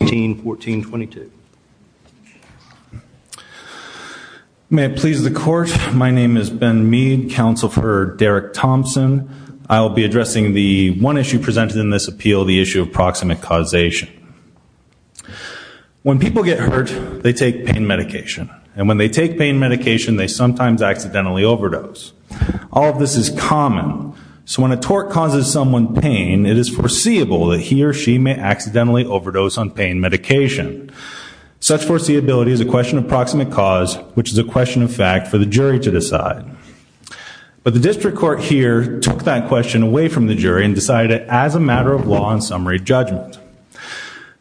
1422. May it please the court, my name is Ben Mead, counsel for Derek Thompson. I'll be addressing the one issue presented in this appeal, the issue of proximate causation. When people get hurt they take pain medication and when they take pain medication they sometimes accidentally overdose. All of this is common, so when a tort causes someone pain it is foreseeable that he or she may accidentally overdose on pain medication. Such foreseeability is a question of proximate cause which is a question of fact for the jury to decide. But the district court here took that question away from the jury and decided as a matter of law and summary judgment.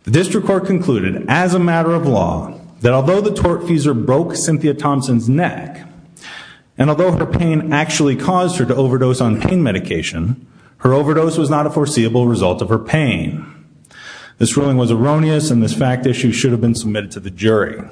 The district court concluded as a matter of law that although the tortfeasor broke Cynthia Thompson's neck and although her pain actually caused her to pain. This ruling was erroneous and this fact issue should have been submitted to the jury.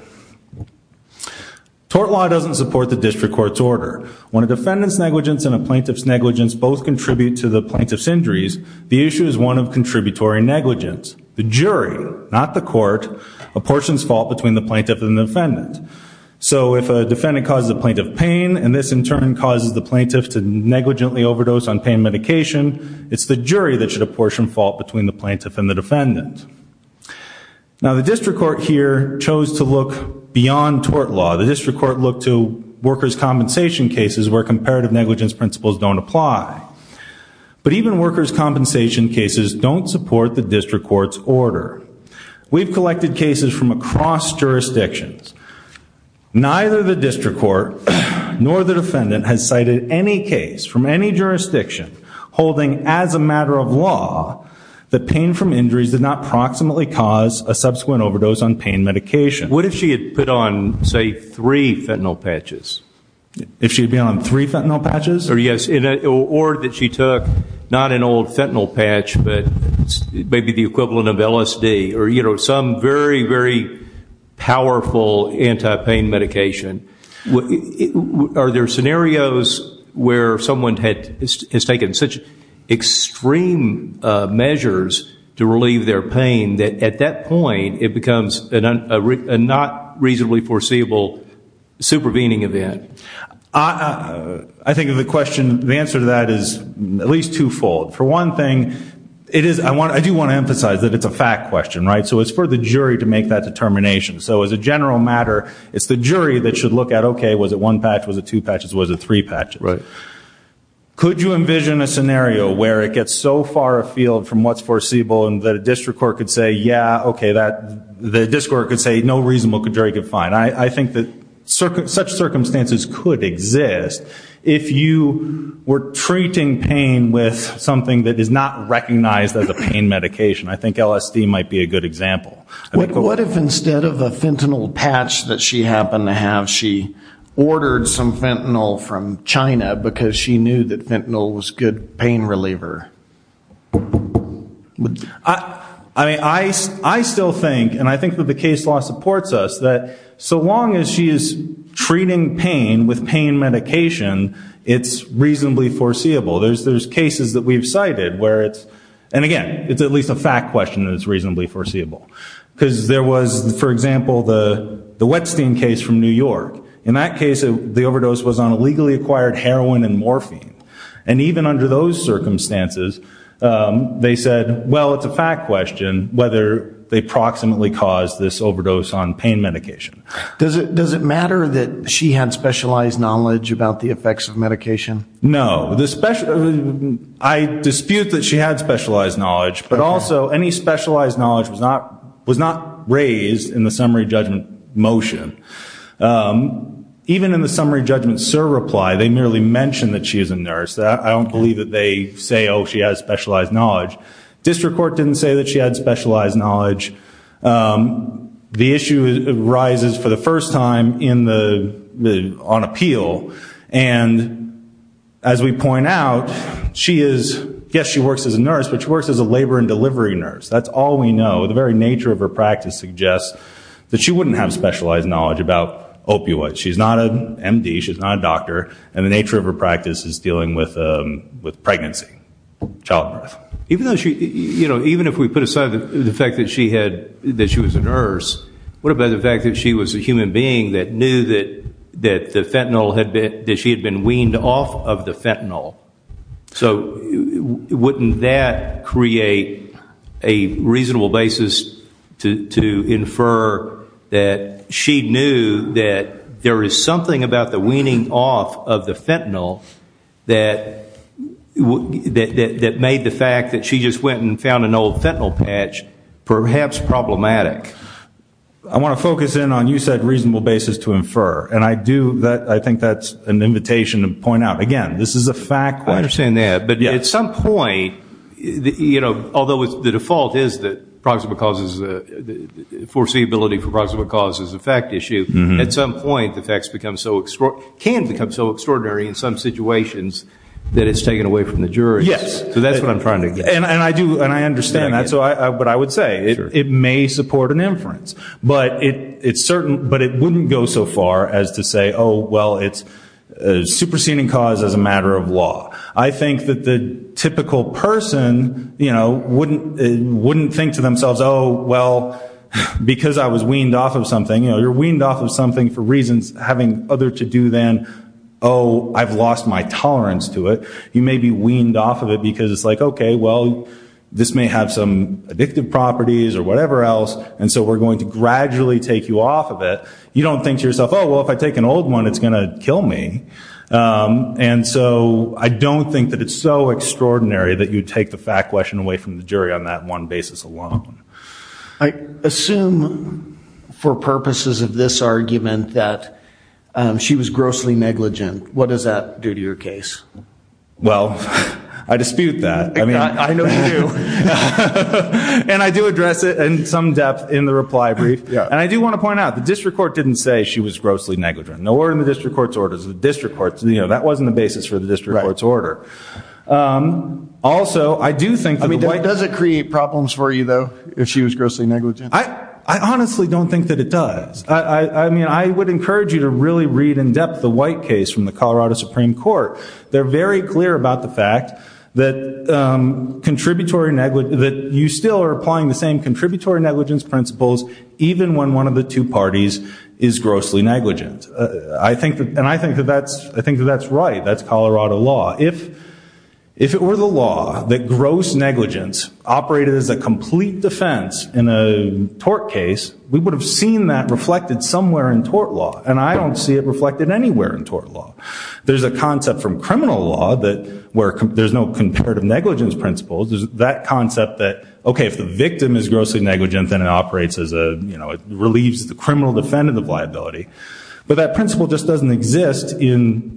Tort law doesn't support the district court's order. When a defendant's negligence and a plaintiff's negligence both contribute to the plaintiff's injuries, the issue is one of contributory negligence. The jury, not the court, apportions fault between the plaintiff and defendant. So if a defendant causes a plaintiff pain and this in turn causes the plaintiff to negligently overdose on pain medication, it's the jury that should apportion fault between the plaintiff and the defendant. Now the district court here chose to look beyond tort law. The district court looked to workers compensation cases where comparative negligence principles don't apply. But even workers compensation cases don't support the district court's order. We've collected cases from across jurisdictions. Neither the district court nor the defendant has cited any case from any jurisdiction holding as a pain from injuries did not proximately cause a subsequent overdose on pain medication. What if she had put on say three fentanyl patches? If she had been on three fentanyl patches? Or yes, or that she took not an old fentanyl patch but maybe the equivalent of LSD or you know some very very powerful anti-pain medication. Are there scenarios where someone has taken such extreme measures to relieve their pain that at that point it becomes a not reasonably foreseeable supervening event? I think of the question, the answer to that is at least twofold. For one thing, I do want to emphasize that it's a fact question, right? So it's for the jury to make that determination. So as a general matter, it's the jury that should look at okay was it one patch, was it two patches, was it three patches? Right. Could you envision a scenario where it gets so far afield from what's foreseeable and that a district court could say yeah okay that the district court could say no reasonable jury could find. I think that such circumstances could exist if you were treating pain with something that is not recognized as a pain medication. I think LSD might be a good example. What if instead of a fentanyl patch that she happened to have, she ordered some fentanyl from China because she knew that fentanyl was good pain reliever? I mean I still think and I think that the case law supports us that so long as she is treating pain with pain medication it's reasonably foreseeable. There's cases that we've cited where it's and again it's at least a fact question that it's reasonably foreseeable because there was for example the the Wetstein case from New York. In that case the legally acquired heroin and morphine and even under those circumstances they said well it's a fact question whether they proximately caused this overdose on pain medication. Does it does it matter that she had specialized knowledge about the effects of medication? No. I dispute that she had specialized knowledge but also any specialized knowledge was not was not raised in the summary judgment SIR reply. They merely mentioned that she is a nurse. I don't believe that they say oh she has specialized knowledge. District Court didn't say that she had specialized knowledge. The issue arises for the first time in the on appeal and as we point out she is yes she works as a nurse but she works as a labor and delivery nurse. That's all we know. The very nature of her practice suggests that she wouldn't have specialized knowledge about opioid. She's not an MD. She's not a doctor and the nature of her practice is dealing with with pregnancy. Childbirth. Even though she you know even if we put aside the fact that she had that she was a nurse what about the fact that she was a human being that knew that that the fentanyl had been that she had been weaned off of the fentanyl. So wouldn't that create a reasonable basis to infer that she knew that there is something about the weaning off of the fentanyl that that made the fact that she just went and found an old fentanyl patch perhaps problematic. I want to focus in on you said reasonable basis to infer and I do that I think that's an invitation to point out again this is a fact. I understand that but at some point you know although it's the default is that proximate causes the foreseeability for proximate causes is a fact issue. At some point the facts can become so extraordinary in some situations that it's taken away from the jury. Yes. So that's what I'm trying to get. And I do and I understand that so I but I would say it may support an inference but it's certain but it wouldn't go so far as to say oh well it's a superseding cause as a matter of law. I think that the typical person you know wouldn't wouldn't think to themselves oh well because I was weaned off of something you know you're weaned off of something for reasons having other to do then oh I've lost my tolerance to it. You may be weaned off of it because it's like okay well this may have some addictive properties or whatever else and so we're going to gradually take you off of it. You don't think to yourself oh well if I take an old one it's gonna kill me. And so I don't think that it's so extraordinary that you take the fact question away from the jury on that one basis alone. I assume for purposes of this argument that she was grossly negligent. What does that do to your case? Well I dispute that. I mean I know you do. And I do address it in some depth in the reply brief. Yeah. And I do want to point out the district court didn't say she was grossly negligent. No order in the district court's orders. The district court's you know that wasn't the basis for the district court's order. Also I do think. I mean does it create problems for you though if she was grossly negligent? I honestly don't think that it does. I mean I would encourage you to really read in depth the White case from the Colorado Supreme Court. They're very clear about the fact that contributory negligence that you still are applying the same contributory negligence principles even when one of the two I think that's right. That's Colorado law. If it were the law that gross negligence operated as a complete defense in a tort case we would have seen that reflected somewhere in tort law. And I don't see it reflected anywhere in tort law. There's a concept from criminal law that where there's no comparative negligence principles. There's that concept that okay if the victim is grossly negligent then it operates as a you know it relieves the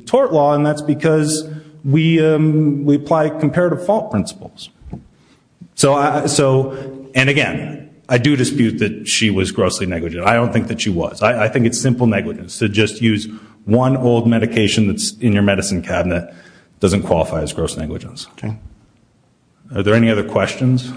tort law and that's because we we apply comparative fault principles. So I so and again I do dispute that she was grossly negligent. I don't think that she was. I think it's simple negligence to just use one old medication that's in your medicine cabinet doesn't qualify as gross negligence. Are there any other questions?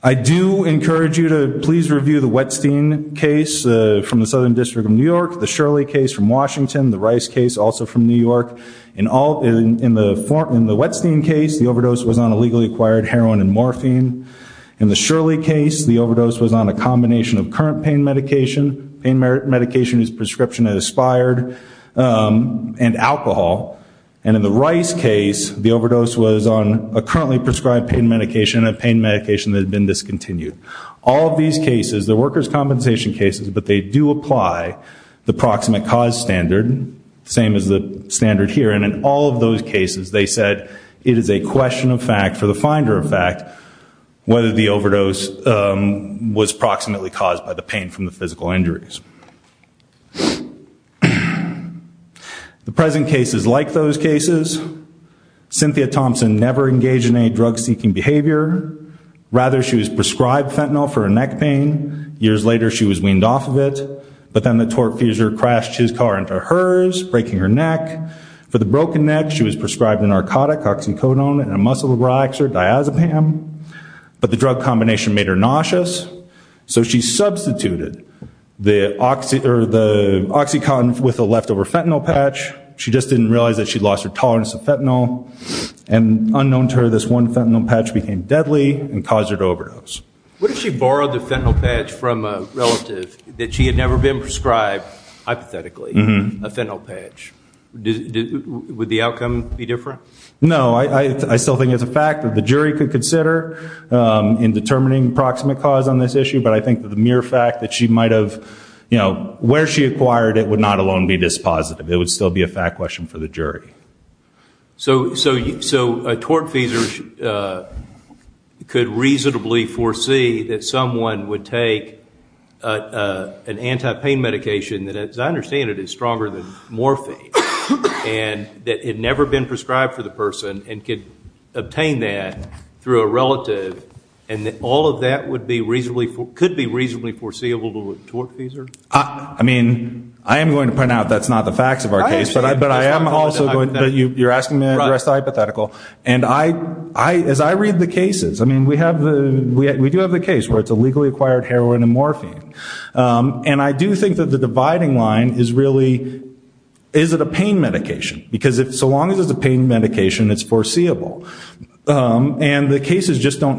I do encourage you to please review the Wetstein case from the Southern District of New York, the Shirley case from Washington, the Rice case also from New York. In the Wetstein case the overdose was on a legally acquired heroin and morphine. In the Shirley case the overdose was on a combination of current pain medication. Pain medication is prescription and aspired and alcohol. And in the Rice case the overdose was on a currently prescribed pain medication and a pain medication that had been discontinued. All of these cases the workers compensation cases but they do apply the proximate cause standard. Same as the standard here and in all of those cases they said it is a question of fact for the finder of fact whether the The present case is like those cases. Cynthia Thompson never engaged in any drug-seeking behavior. Rather she was prescribed fentanyl for her neck pain. Years later she was weaned off of it. But then the torque fuser crashed his car into hers breaking her neck. For the broken neck she was prescribed a narcotic oxycodone and a muscle relaxer diazepam. But the drug combination made her oxycodone with a leftover fentanyl patch. She just didn't realize that she lost her tolerance of fentanyl. And unknown to her this one fentanyl patch became deadly and caused her to overdose. What if she borrowed the fentanyl patch from a relative that she had never been prescribed hypothetically a fentanyl patch? Would the outcome be different? No I still think it's a fact that the jury could consider in determining proximate cause on this issue. But I think that the acquired it would not alone be dispositive. It would still be a fact question for the jury. So so so a torque fuser could reasonably foresee that someone would take an anti-pain medication that as I understand it is stronger than morphine and that had never been prescribed for the person and could obtain that through a relative and that all of that would be reasonably could be reasonably foreseeable to a torque fuser? I mean I am going to point out that's not the facts of our case but I but I am also going to you you're asking me a hypothetical and I I as I read the cases I mean we have the we do have the case where it's a legally acquired heroin and morphine and I do think that the dividing line is really is it a pain medication because if so long as it's a pain medication it's foreseeable and the cases just don't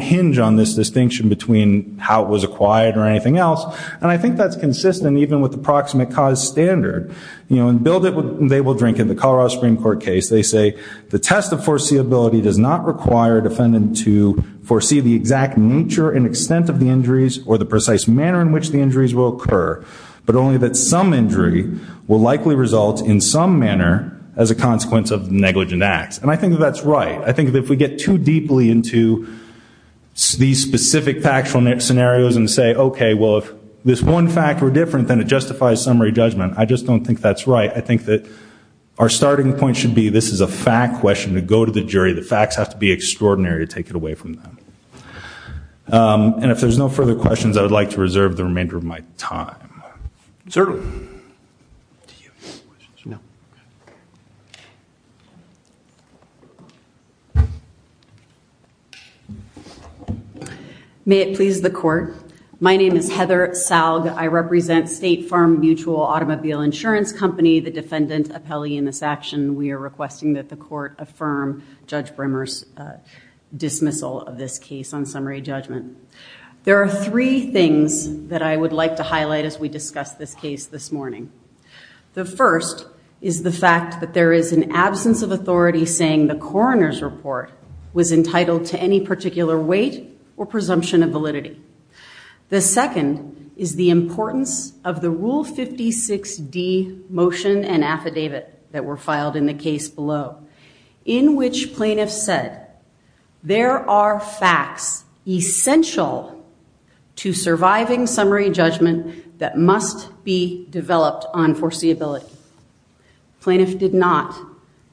distinction between how it was acquired or anything else and I think that's consistent even with the proximate cause standard you know and build it they will drink in the Colorado Supreme Court case they say the test of foreseeability does not require defendant to foresee the exact nature and extent of the injuries or the precise manner in which the injuries will occur but only that some injury will likely result in some manner as a consequence of negligent acts and I think that our starting point should be this is a fact question to go to the jury the facts have to be extraordinary to take it away from them and if there's no further questions I would like to reserve the remainder of my time May it please the court my name is Heather Salg I represent State Farm Mutual Automobile Insurance Company the defendant appellee in this action we are requesting that the court affirm Judge Brimmer's dismissal of this case on summary judgment there are three things that I would like to highlight as we discuss this case this morning the first is the fact that there is an absence of authority saying the coroner's report was entitled to any particular weight or presumption of validity the second is the importance of the rule 56d motion and affidavit that were filed in the case below in which plaintiffs said there are facts essential to surviving summary judgment that must be developed on foreseeability plaintiff did not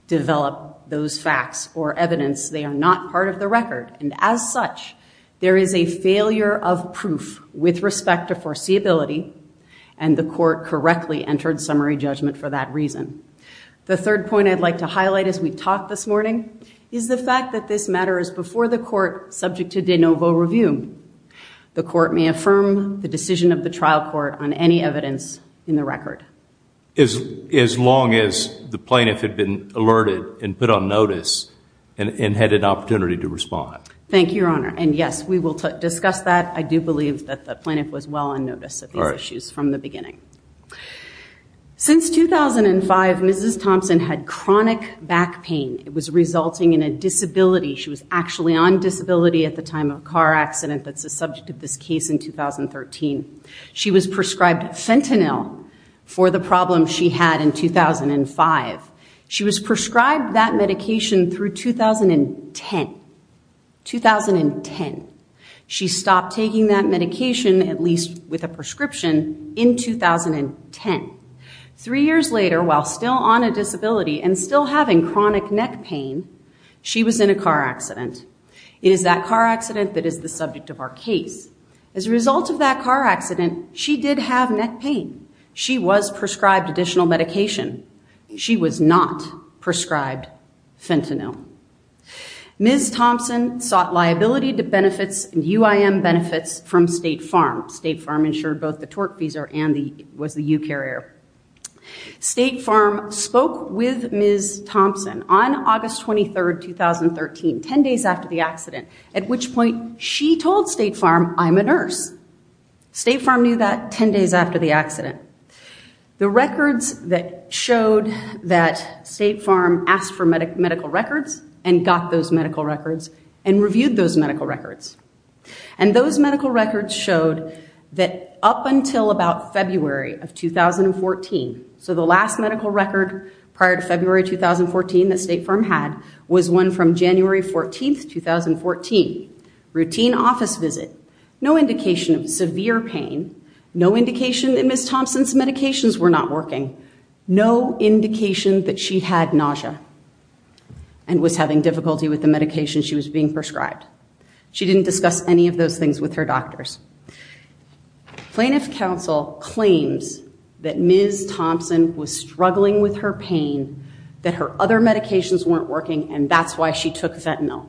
develop those facts or evidence they are not part of the record and as such there is a failure of proof with respect to foreseeability and the court correctly entered summary judgment for that reason the third point I'd like to highlight as we talk this morning is the fact that this matter is before the court subject to de novo review the court may affirm the decision of the trial court on any evidence in the record is as long as the plaintiff had been alerted and put on notice and had an opportunity to respond thank you your honor and yes we will discuss that I do believe that the plaintiff was well on notice of issues from the beginning since 2005 mrs. Thompson had chronic back pain it was time of car accident that's a subject of this case in 2013 she was prescribed fentanyl for the problem she had in 2005 she was prescribed that medication through 2010 2010 she stopped taking that medication at least with a prescription in 2010 three years later while still on a disability and still having chronic neck pain she was in a car accident is that car accident that is the subject of our case as a result of that car accident she did have neck pain she was prescribed additional medication she was not prescribed fentanyl ms. Thompson sought liability to benefits and UIM benefits from State Farm State Farm insured both the torque these are Andy was the you carrier State Thompson on August 23rd 2013 10 days after the accident at which point she told State Farm I'm a nurse State Farm you that 10 days after the accident the records that showed that State Farm asked for medic medical records and got those medical records and reviewed those medical records and those medical records showed that up until about February of 2014 so the last medical record prior to February 2014 that State Farm had was one from January 14 2014 routine office visit no indication of severe pain no indication in this Thompson's medications were not working no indication that she had nausea and was having difficulty with the medication she was being prescribed she didn't discuss any of those things with her doctors plaintiff counsel claims that Ms. Thompson was struggling with her pain that her other medications weren't working and that's why she took fentanyl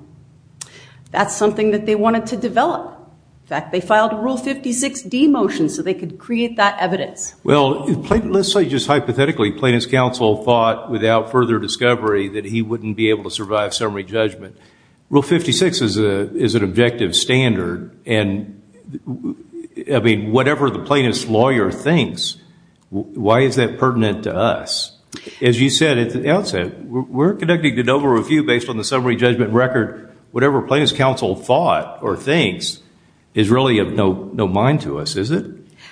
that's something that they wanted to develop that they filed a rule 56 D motion so they could create that evidence well let's say just hypothetically plaintiff's counsel thought without further discovery that he wouldn't be able to survive summary judgment rule 56 is a is an objective standard and I mean whatever the lawyer thinks why is that pertinent to us as you said at the outset we're conducting an overview based on the summary judgment record whatever plaintiff's counsel thought or things is really of no no mind to us is it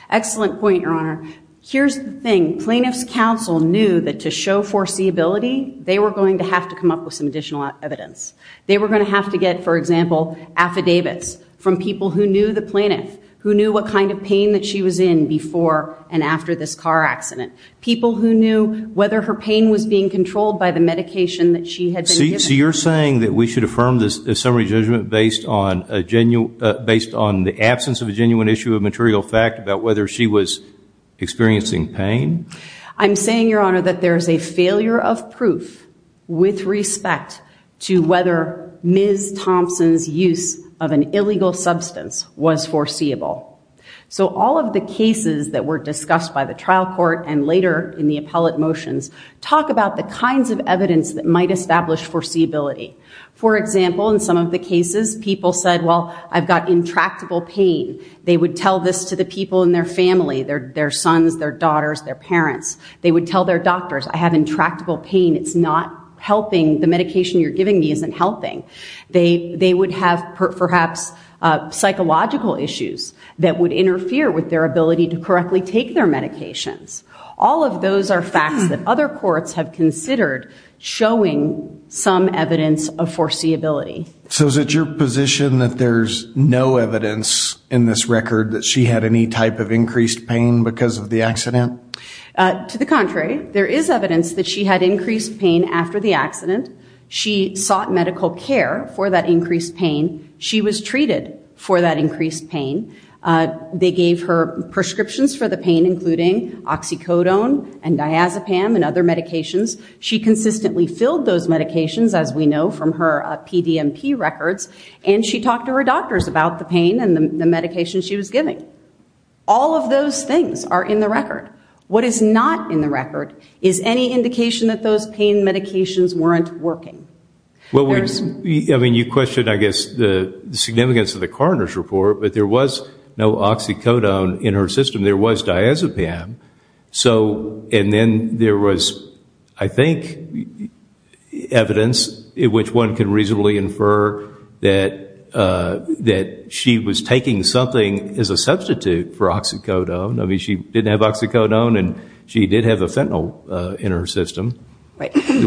excellent point your honor here's the thing plaintiff's counsel knew that to show foreseeability they were going to have to come up with some additional evidence they were going to have to get for example affidavits from people who the plaintiff who knew what kind of pain that she was in before and after this car accident people who knew whether her pain was being controlled by the medication that she had see you're saying that we should affirm this summary judgment based on a genuine based on the absence of a genuine issue of material fact about whether she was experiencing pain I'm saying your honor that there's a failure of proof with respect to whether ms. Thompson's use of an illegal substance was foreseeable so all of the cases that were discussed by the trial court and later in the appellate motions talk about the kinds of evidence that might establish foreseeability for example in some of the cases people said well I've got intractable pain they would tell this to the people in their family their their sons their daughters their parents they would tell their doctors I have intractable pain it's not helping the psychological issues that would interfere with their ability to correctly take their medications all of those are facts that other courts have considered showing some evidence of foreseeability so is it your position that there's no evidence in this record that she had any type of increased pain because of the accident to the contrary there is evidence that she had increased pain after the accident she sought medical care for that increased pain she was treated for that increased pain they gave her prescriptions for the pain including oxycodone and diazepam and other medications she consistently filled those medications as we know from her PDMP records and she talked to her doctors about the pain and the medication she was giving all of those things are in the record what is not in the record is any indication that those medications weren't working well we I mean you question I guess the significance of the coroner's report but there was no oxycodone in her system there was diazepam so and then there was I think evidence in which one can reasonably infer that that she was taking something as a substitute for oxycodone I mean she didn't have oxycodone and she did have a fentanyl in her system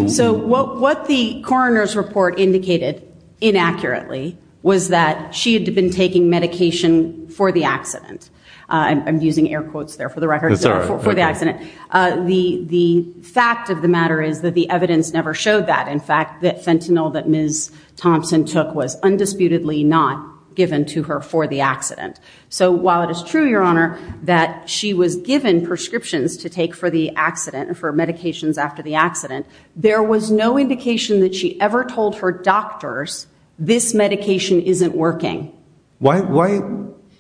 so what what the coroner's report indicated inaccurately was that she had been taking medication for the accident I'm using air quotes there for the record for the accident the the fact of the matter is that the evidence never showed that in fact that fentanyl that ms. Thompson took was undisputedly not given to her for the accident so while it is true your honor that she was given prescriptions to take for the accident and for medications after the accident there was no indication that she ever told her doctors this medication isn't working why why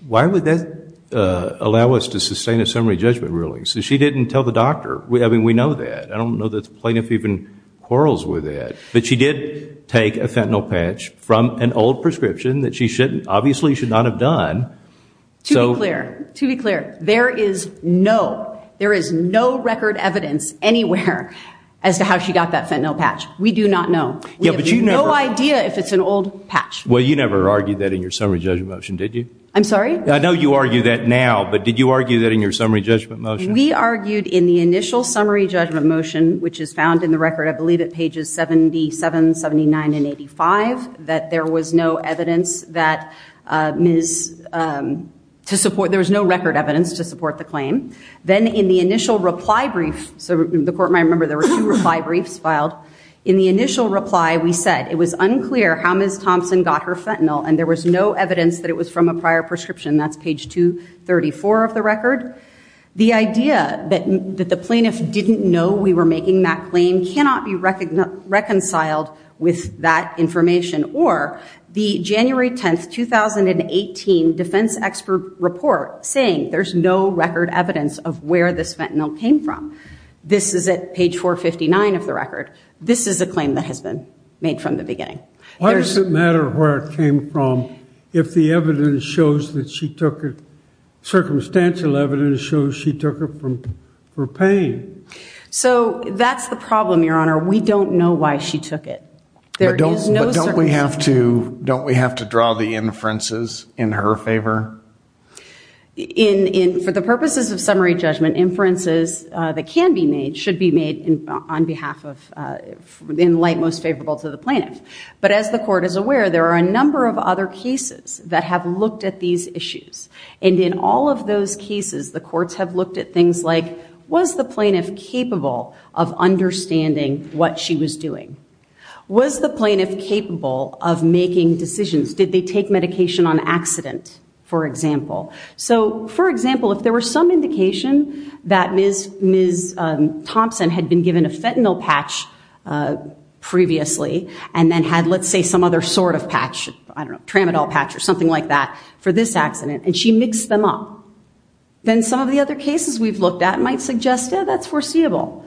why would that allow us to sustain a summary judgment ruling so she didn't tell the doctor we having we know that I don't know that's plaintiff even quarrels with it but she did take a fentanyl patch from an old prescription that she shouldn't obviously should not have done so clear to be clear there is no there is no record evidence anywhere as to how she got that fentanyl patch we do not know you have no idea if it's an old patch well you never argued that in your summary judgment motion did you I'm sorry I know you argue that now but did you argue that in your summary judgment motion we argued in the initial summary judgment motion which is found in the record I believe it pages 77 79 and 85 that there was no evidence that is to support there was no record evidence to claim then in the initial reply brief so the court might remember there were two reply briefs filed in the initial reply we said it was unclear how ms. Thompson got her fentanyl and there was no evidence that it was from a prior prescription that's page 234 of the record the idea that that the plaintiff didn't know we were making that claim cannot be reckoned reconciled with that information or the January 10th 2018 defense expert report saying there's no record evidence of where this fentanyl came from this is at page 459 of the record this is a claim that has been made from the beginning why does it matter where it came from if the evidence shows that she took it circumstantial evidence shows she took her from her pain so that's the problem your honor we don't know why she took it there don't we have to don't we have to purposes of summary judgment inferences that can be made should be made in on behalf of in light most favorable to the plant but as the court is aware there are a number of other cases that have looked at these issues and in all of those cases the courts have looked at things like was the plaintiff capable of understanding what she was doing was the plaintiff capable of making decisions did they take medication on accident for example so for example if there were some indication that ms. Thompson had been given a fentanyl patch previously and then had let's say some other sort of patch I don't know tramadol patch or something like that for this accident and she mixed them up then some of the other cases we've looked at might suggest that that's foreseeable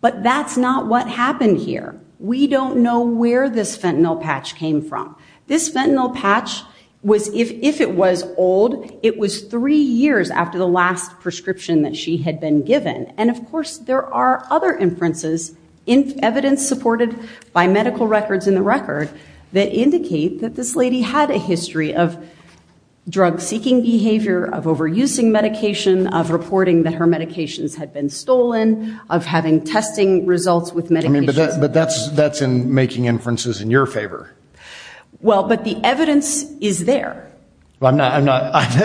but that's not what happened here we don't know where this fentanyl patch came from this fentanyl patch was if it was old it was three years after the last prescription that she had been given and of course there are other inferences in evidence supported by medical records in the record that indicate that this lady had a history of drug-seeking behavior of overusing medication of reporting that her medications had been stolen of having testing results with many but that's that's in making inferences in your favor well but the evidence is there I'm not I'm not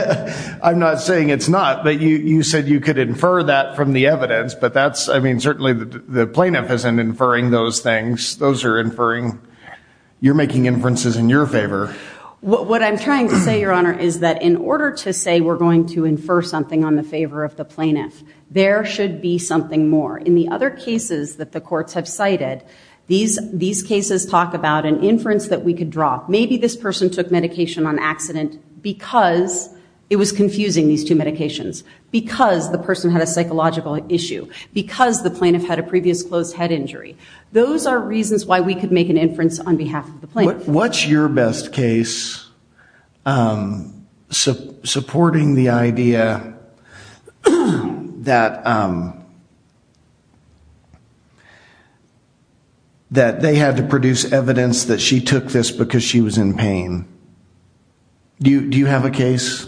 I'm not saying it's not but you said you could infer that from the evidence but that's I mean certainly the plaintiff isn't inferring those things those are inferring you're making inferences in your favor what I'm trying to say your honor is that in order to say we're going to infer something on the favor of the plaintiff there should be something more in the other cases that the courts have cited these these cases talk about an inference that we could draw maybe this person took medication on accident because it was confusing these two medications because the person had a psychological issue because the plaintiff had a previous closed head injury those are reasons why we could make an inference on behalf of the best case supporting the idea that that they had to produce evidence that she took this because she was in pain do you have a case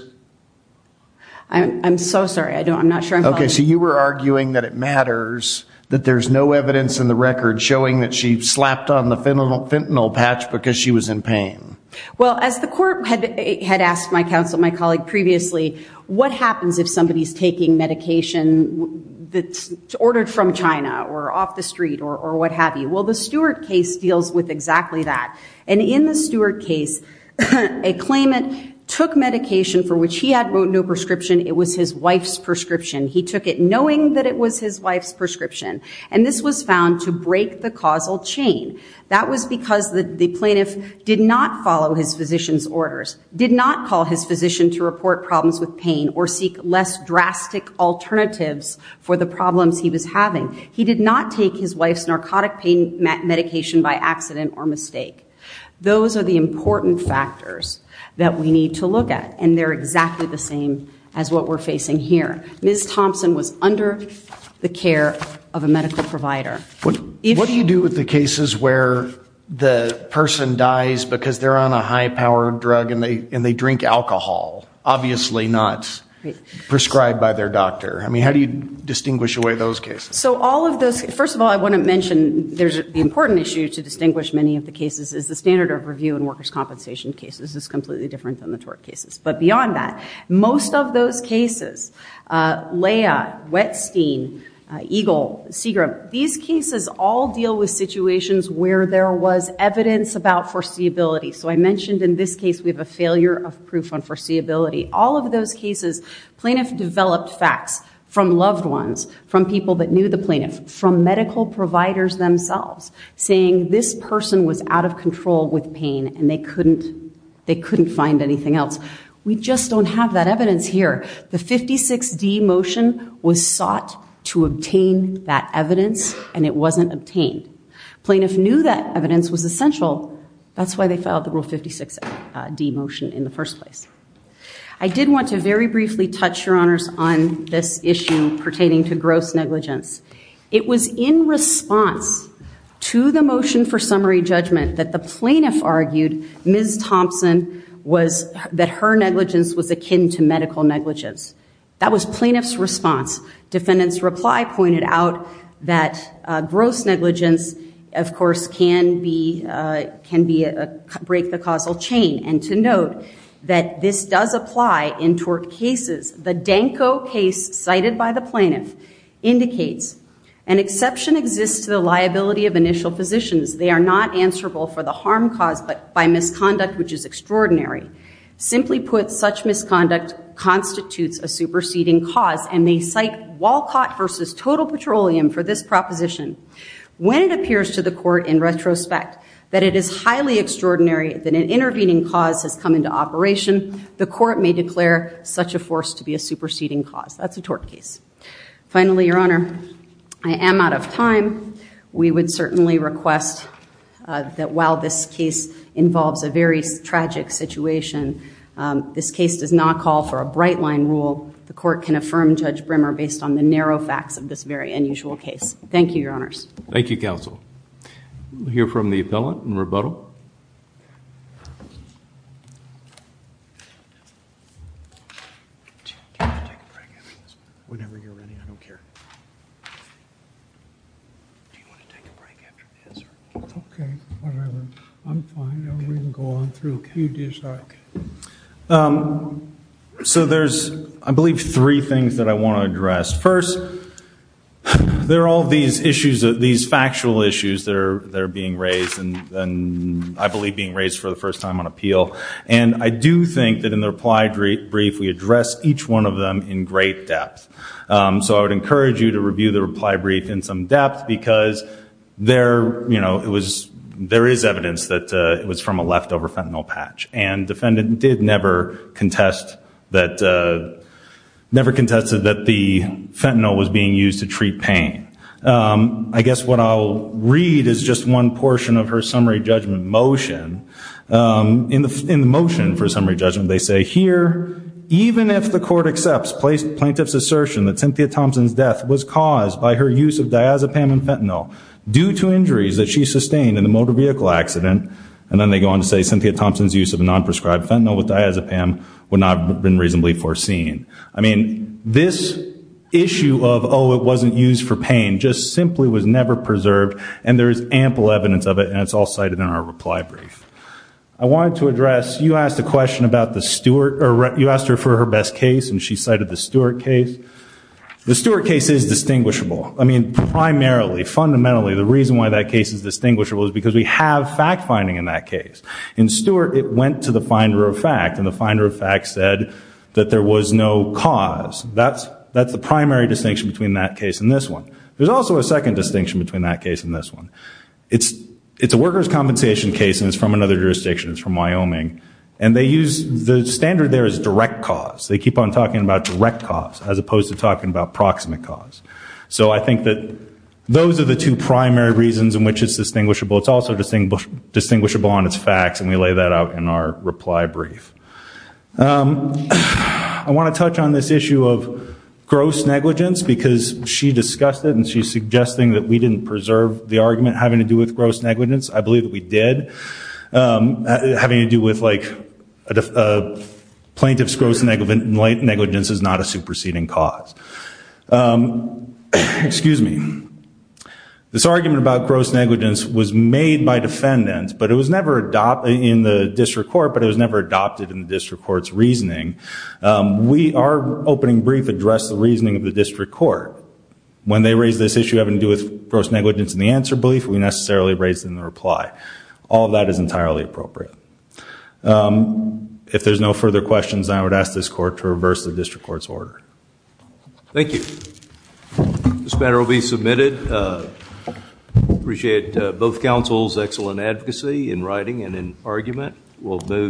I'm so sorry I don't I'm not sure okay so you were arguing that it matters that there's no evidence in the record showing that she slapped on the fentanyl fentanyl patch because she was in pain well as the court had asked my counsel my colleague previously what happens if somebody's taking medication that's ordered from China or off the street or what have you well the Stewart case deals with exactly that and in the Stewart case a claimant took medication for which he had wrote no prescription it was his wife's prescription he took it knowing that it was his wife's prescription and this was found to break the causal chain that was because the plaintiff did not follow his physicians orders did not call his physician to report problems with pain or seek less drastic alternatives for the problems he was having he did not take his wife's narcotic pain medication by accident or mistake those are the important factors that we need to look at and they're exactly the same as what we're facing here ms. Thompson was under the care of a medical provider what do you do with the dies because they're on a high-powered drug and they and they drink alcohol obviously not prescribed by their doctor I mean how do you distinguish away those cases so all of this first of all I want to mention there's the important issue to distinguish many of the cases is the standard of review and workers compensation cases is completely different than the tort cases but beyond that most of those cases Leia Wetstein Eagle Seagram these cases all deal with foreseeability so I mentioned in this case we have a failure of proof on foreseeability all of those cases plaintiff developed facts from loved ones from people that knew the plaintiff from medical providers themselves saying this person was out of control with pain and they couldn't they couldn't find anything else we just don't have that evidence here the 56 D motion was sought to obtain that evidence and it wasn't obtained plaintiff knew that evidence was essential that's why they filed the rule 56 D motion in the first place I did want to very briefly touch your honors on this issue pertaining to gross negligence it was in response to the motion for summary judgment that the plaintiff argued ms. Thompson was that her negligence was akin to medical negligence that was plaintiffs response defendants reply pointed out that gross negligence of course can be can be a break the causal chain and to note that this does apply in tort cases the Danko case cited by the plaintiff indicates an exception exists to the liability of initial positions they are not answerable for the harm cause but by misconduct which is extraordinary simply put such misconduct constitutes a superseding cause and they cite Walcott versus total petroleum for this proposition when it appears to the court in retrospect that it is highly extraordinary that an intervening cause has come into operation the court may declare such a force to be a superseding cause that's a tort case finally your honor I am out of time we would certainly request that while this case involves a very tragic situation this case does not call for a bright line rule the court can affirm judge Brimmer based on the narrow facts of this very unusual case thank you your honors thank you counsel hear from the appellant and rebuttal so there's I believe three things that I want to address first there are all these issues of these factual issues that are there being raised and then I believe being raised for the first time on appeal and I do think that in the reply brief we address each one of them in great depth so I would encourage you to review the reply brief in some depth because there you know it was there is evidence that it was from a leftover fentanyl patch and defendant did never contest that never contested that the fentanyl was being used to treat pain I guess what I'll read is just one portion of her summary judgment motion in the motion for summary judgment they say here even if the court accepts placed plaintiff's assertion that Cynthia Thompson's death was caused by her use of diazepam and fentanyl due to injuries that she sustained in the motor vehicle accident and then they go on to say Cynthia Thompson's use of a non-prescribed fentanyl with diazepam would not have been reasonably foreseen I mean this issue of oh it wasn't used for pain just simply was never preserved and there is ample evidence of it and it's all cited in our reply brief I wanted to address you asked a question about the Stewart or you asked her for her best case and she cited the Stewart case the Stewart case is distinguishable I mean primarily fundamentally the reason why that case is distinguishable is because we have fact-finding in that case in Stewart it went to the finder of fact and the finder of fact said that there was no cause that's that's the primary distinction between that case in this one there's also a second distinction between that case in this one it's it's a workers compensation case and it's from another jurisdictions from Wyoming and they use the standard there is direct cause they keep on talking about direct cause as opposed to talking about proximate cause so I think that those are the two primary reasons in which it's distinguishable it's also distinct distinguishable on its facts and we lay that out in our reply brief I want to touch on this issue of gross negligence because she discussed it and she's suggesting that we didn't preserve the argument having to do with gross negligence I believe that we did having to do with like a plaintiff's gross negligence negligence is not a superseding cause excuse me this argument about gross negligence was made by defendants but it was never adopted in the district court but it was never adopted in the district courts reasoning we are opening brief address the reasoning of the district court when they raise this issue having to do with gross negligence in the answer belief we necessarily raised in the reply all of that is entirely appropriate if there's no further questions I would ask this court to reverse the district courts order thank you this matter will be submitted appreciate both councils excellent advocacy in writing and in argument will do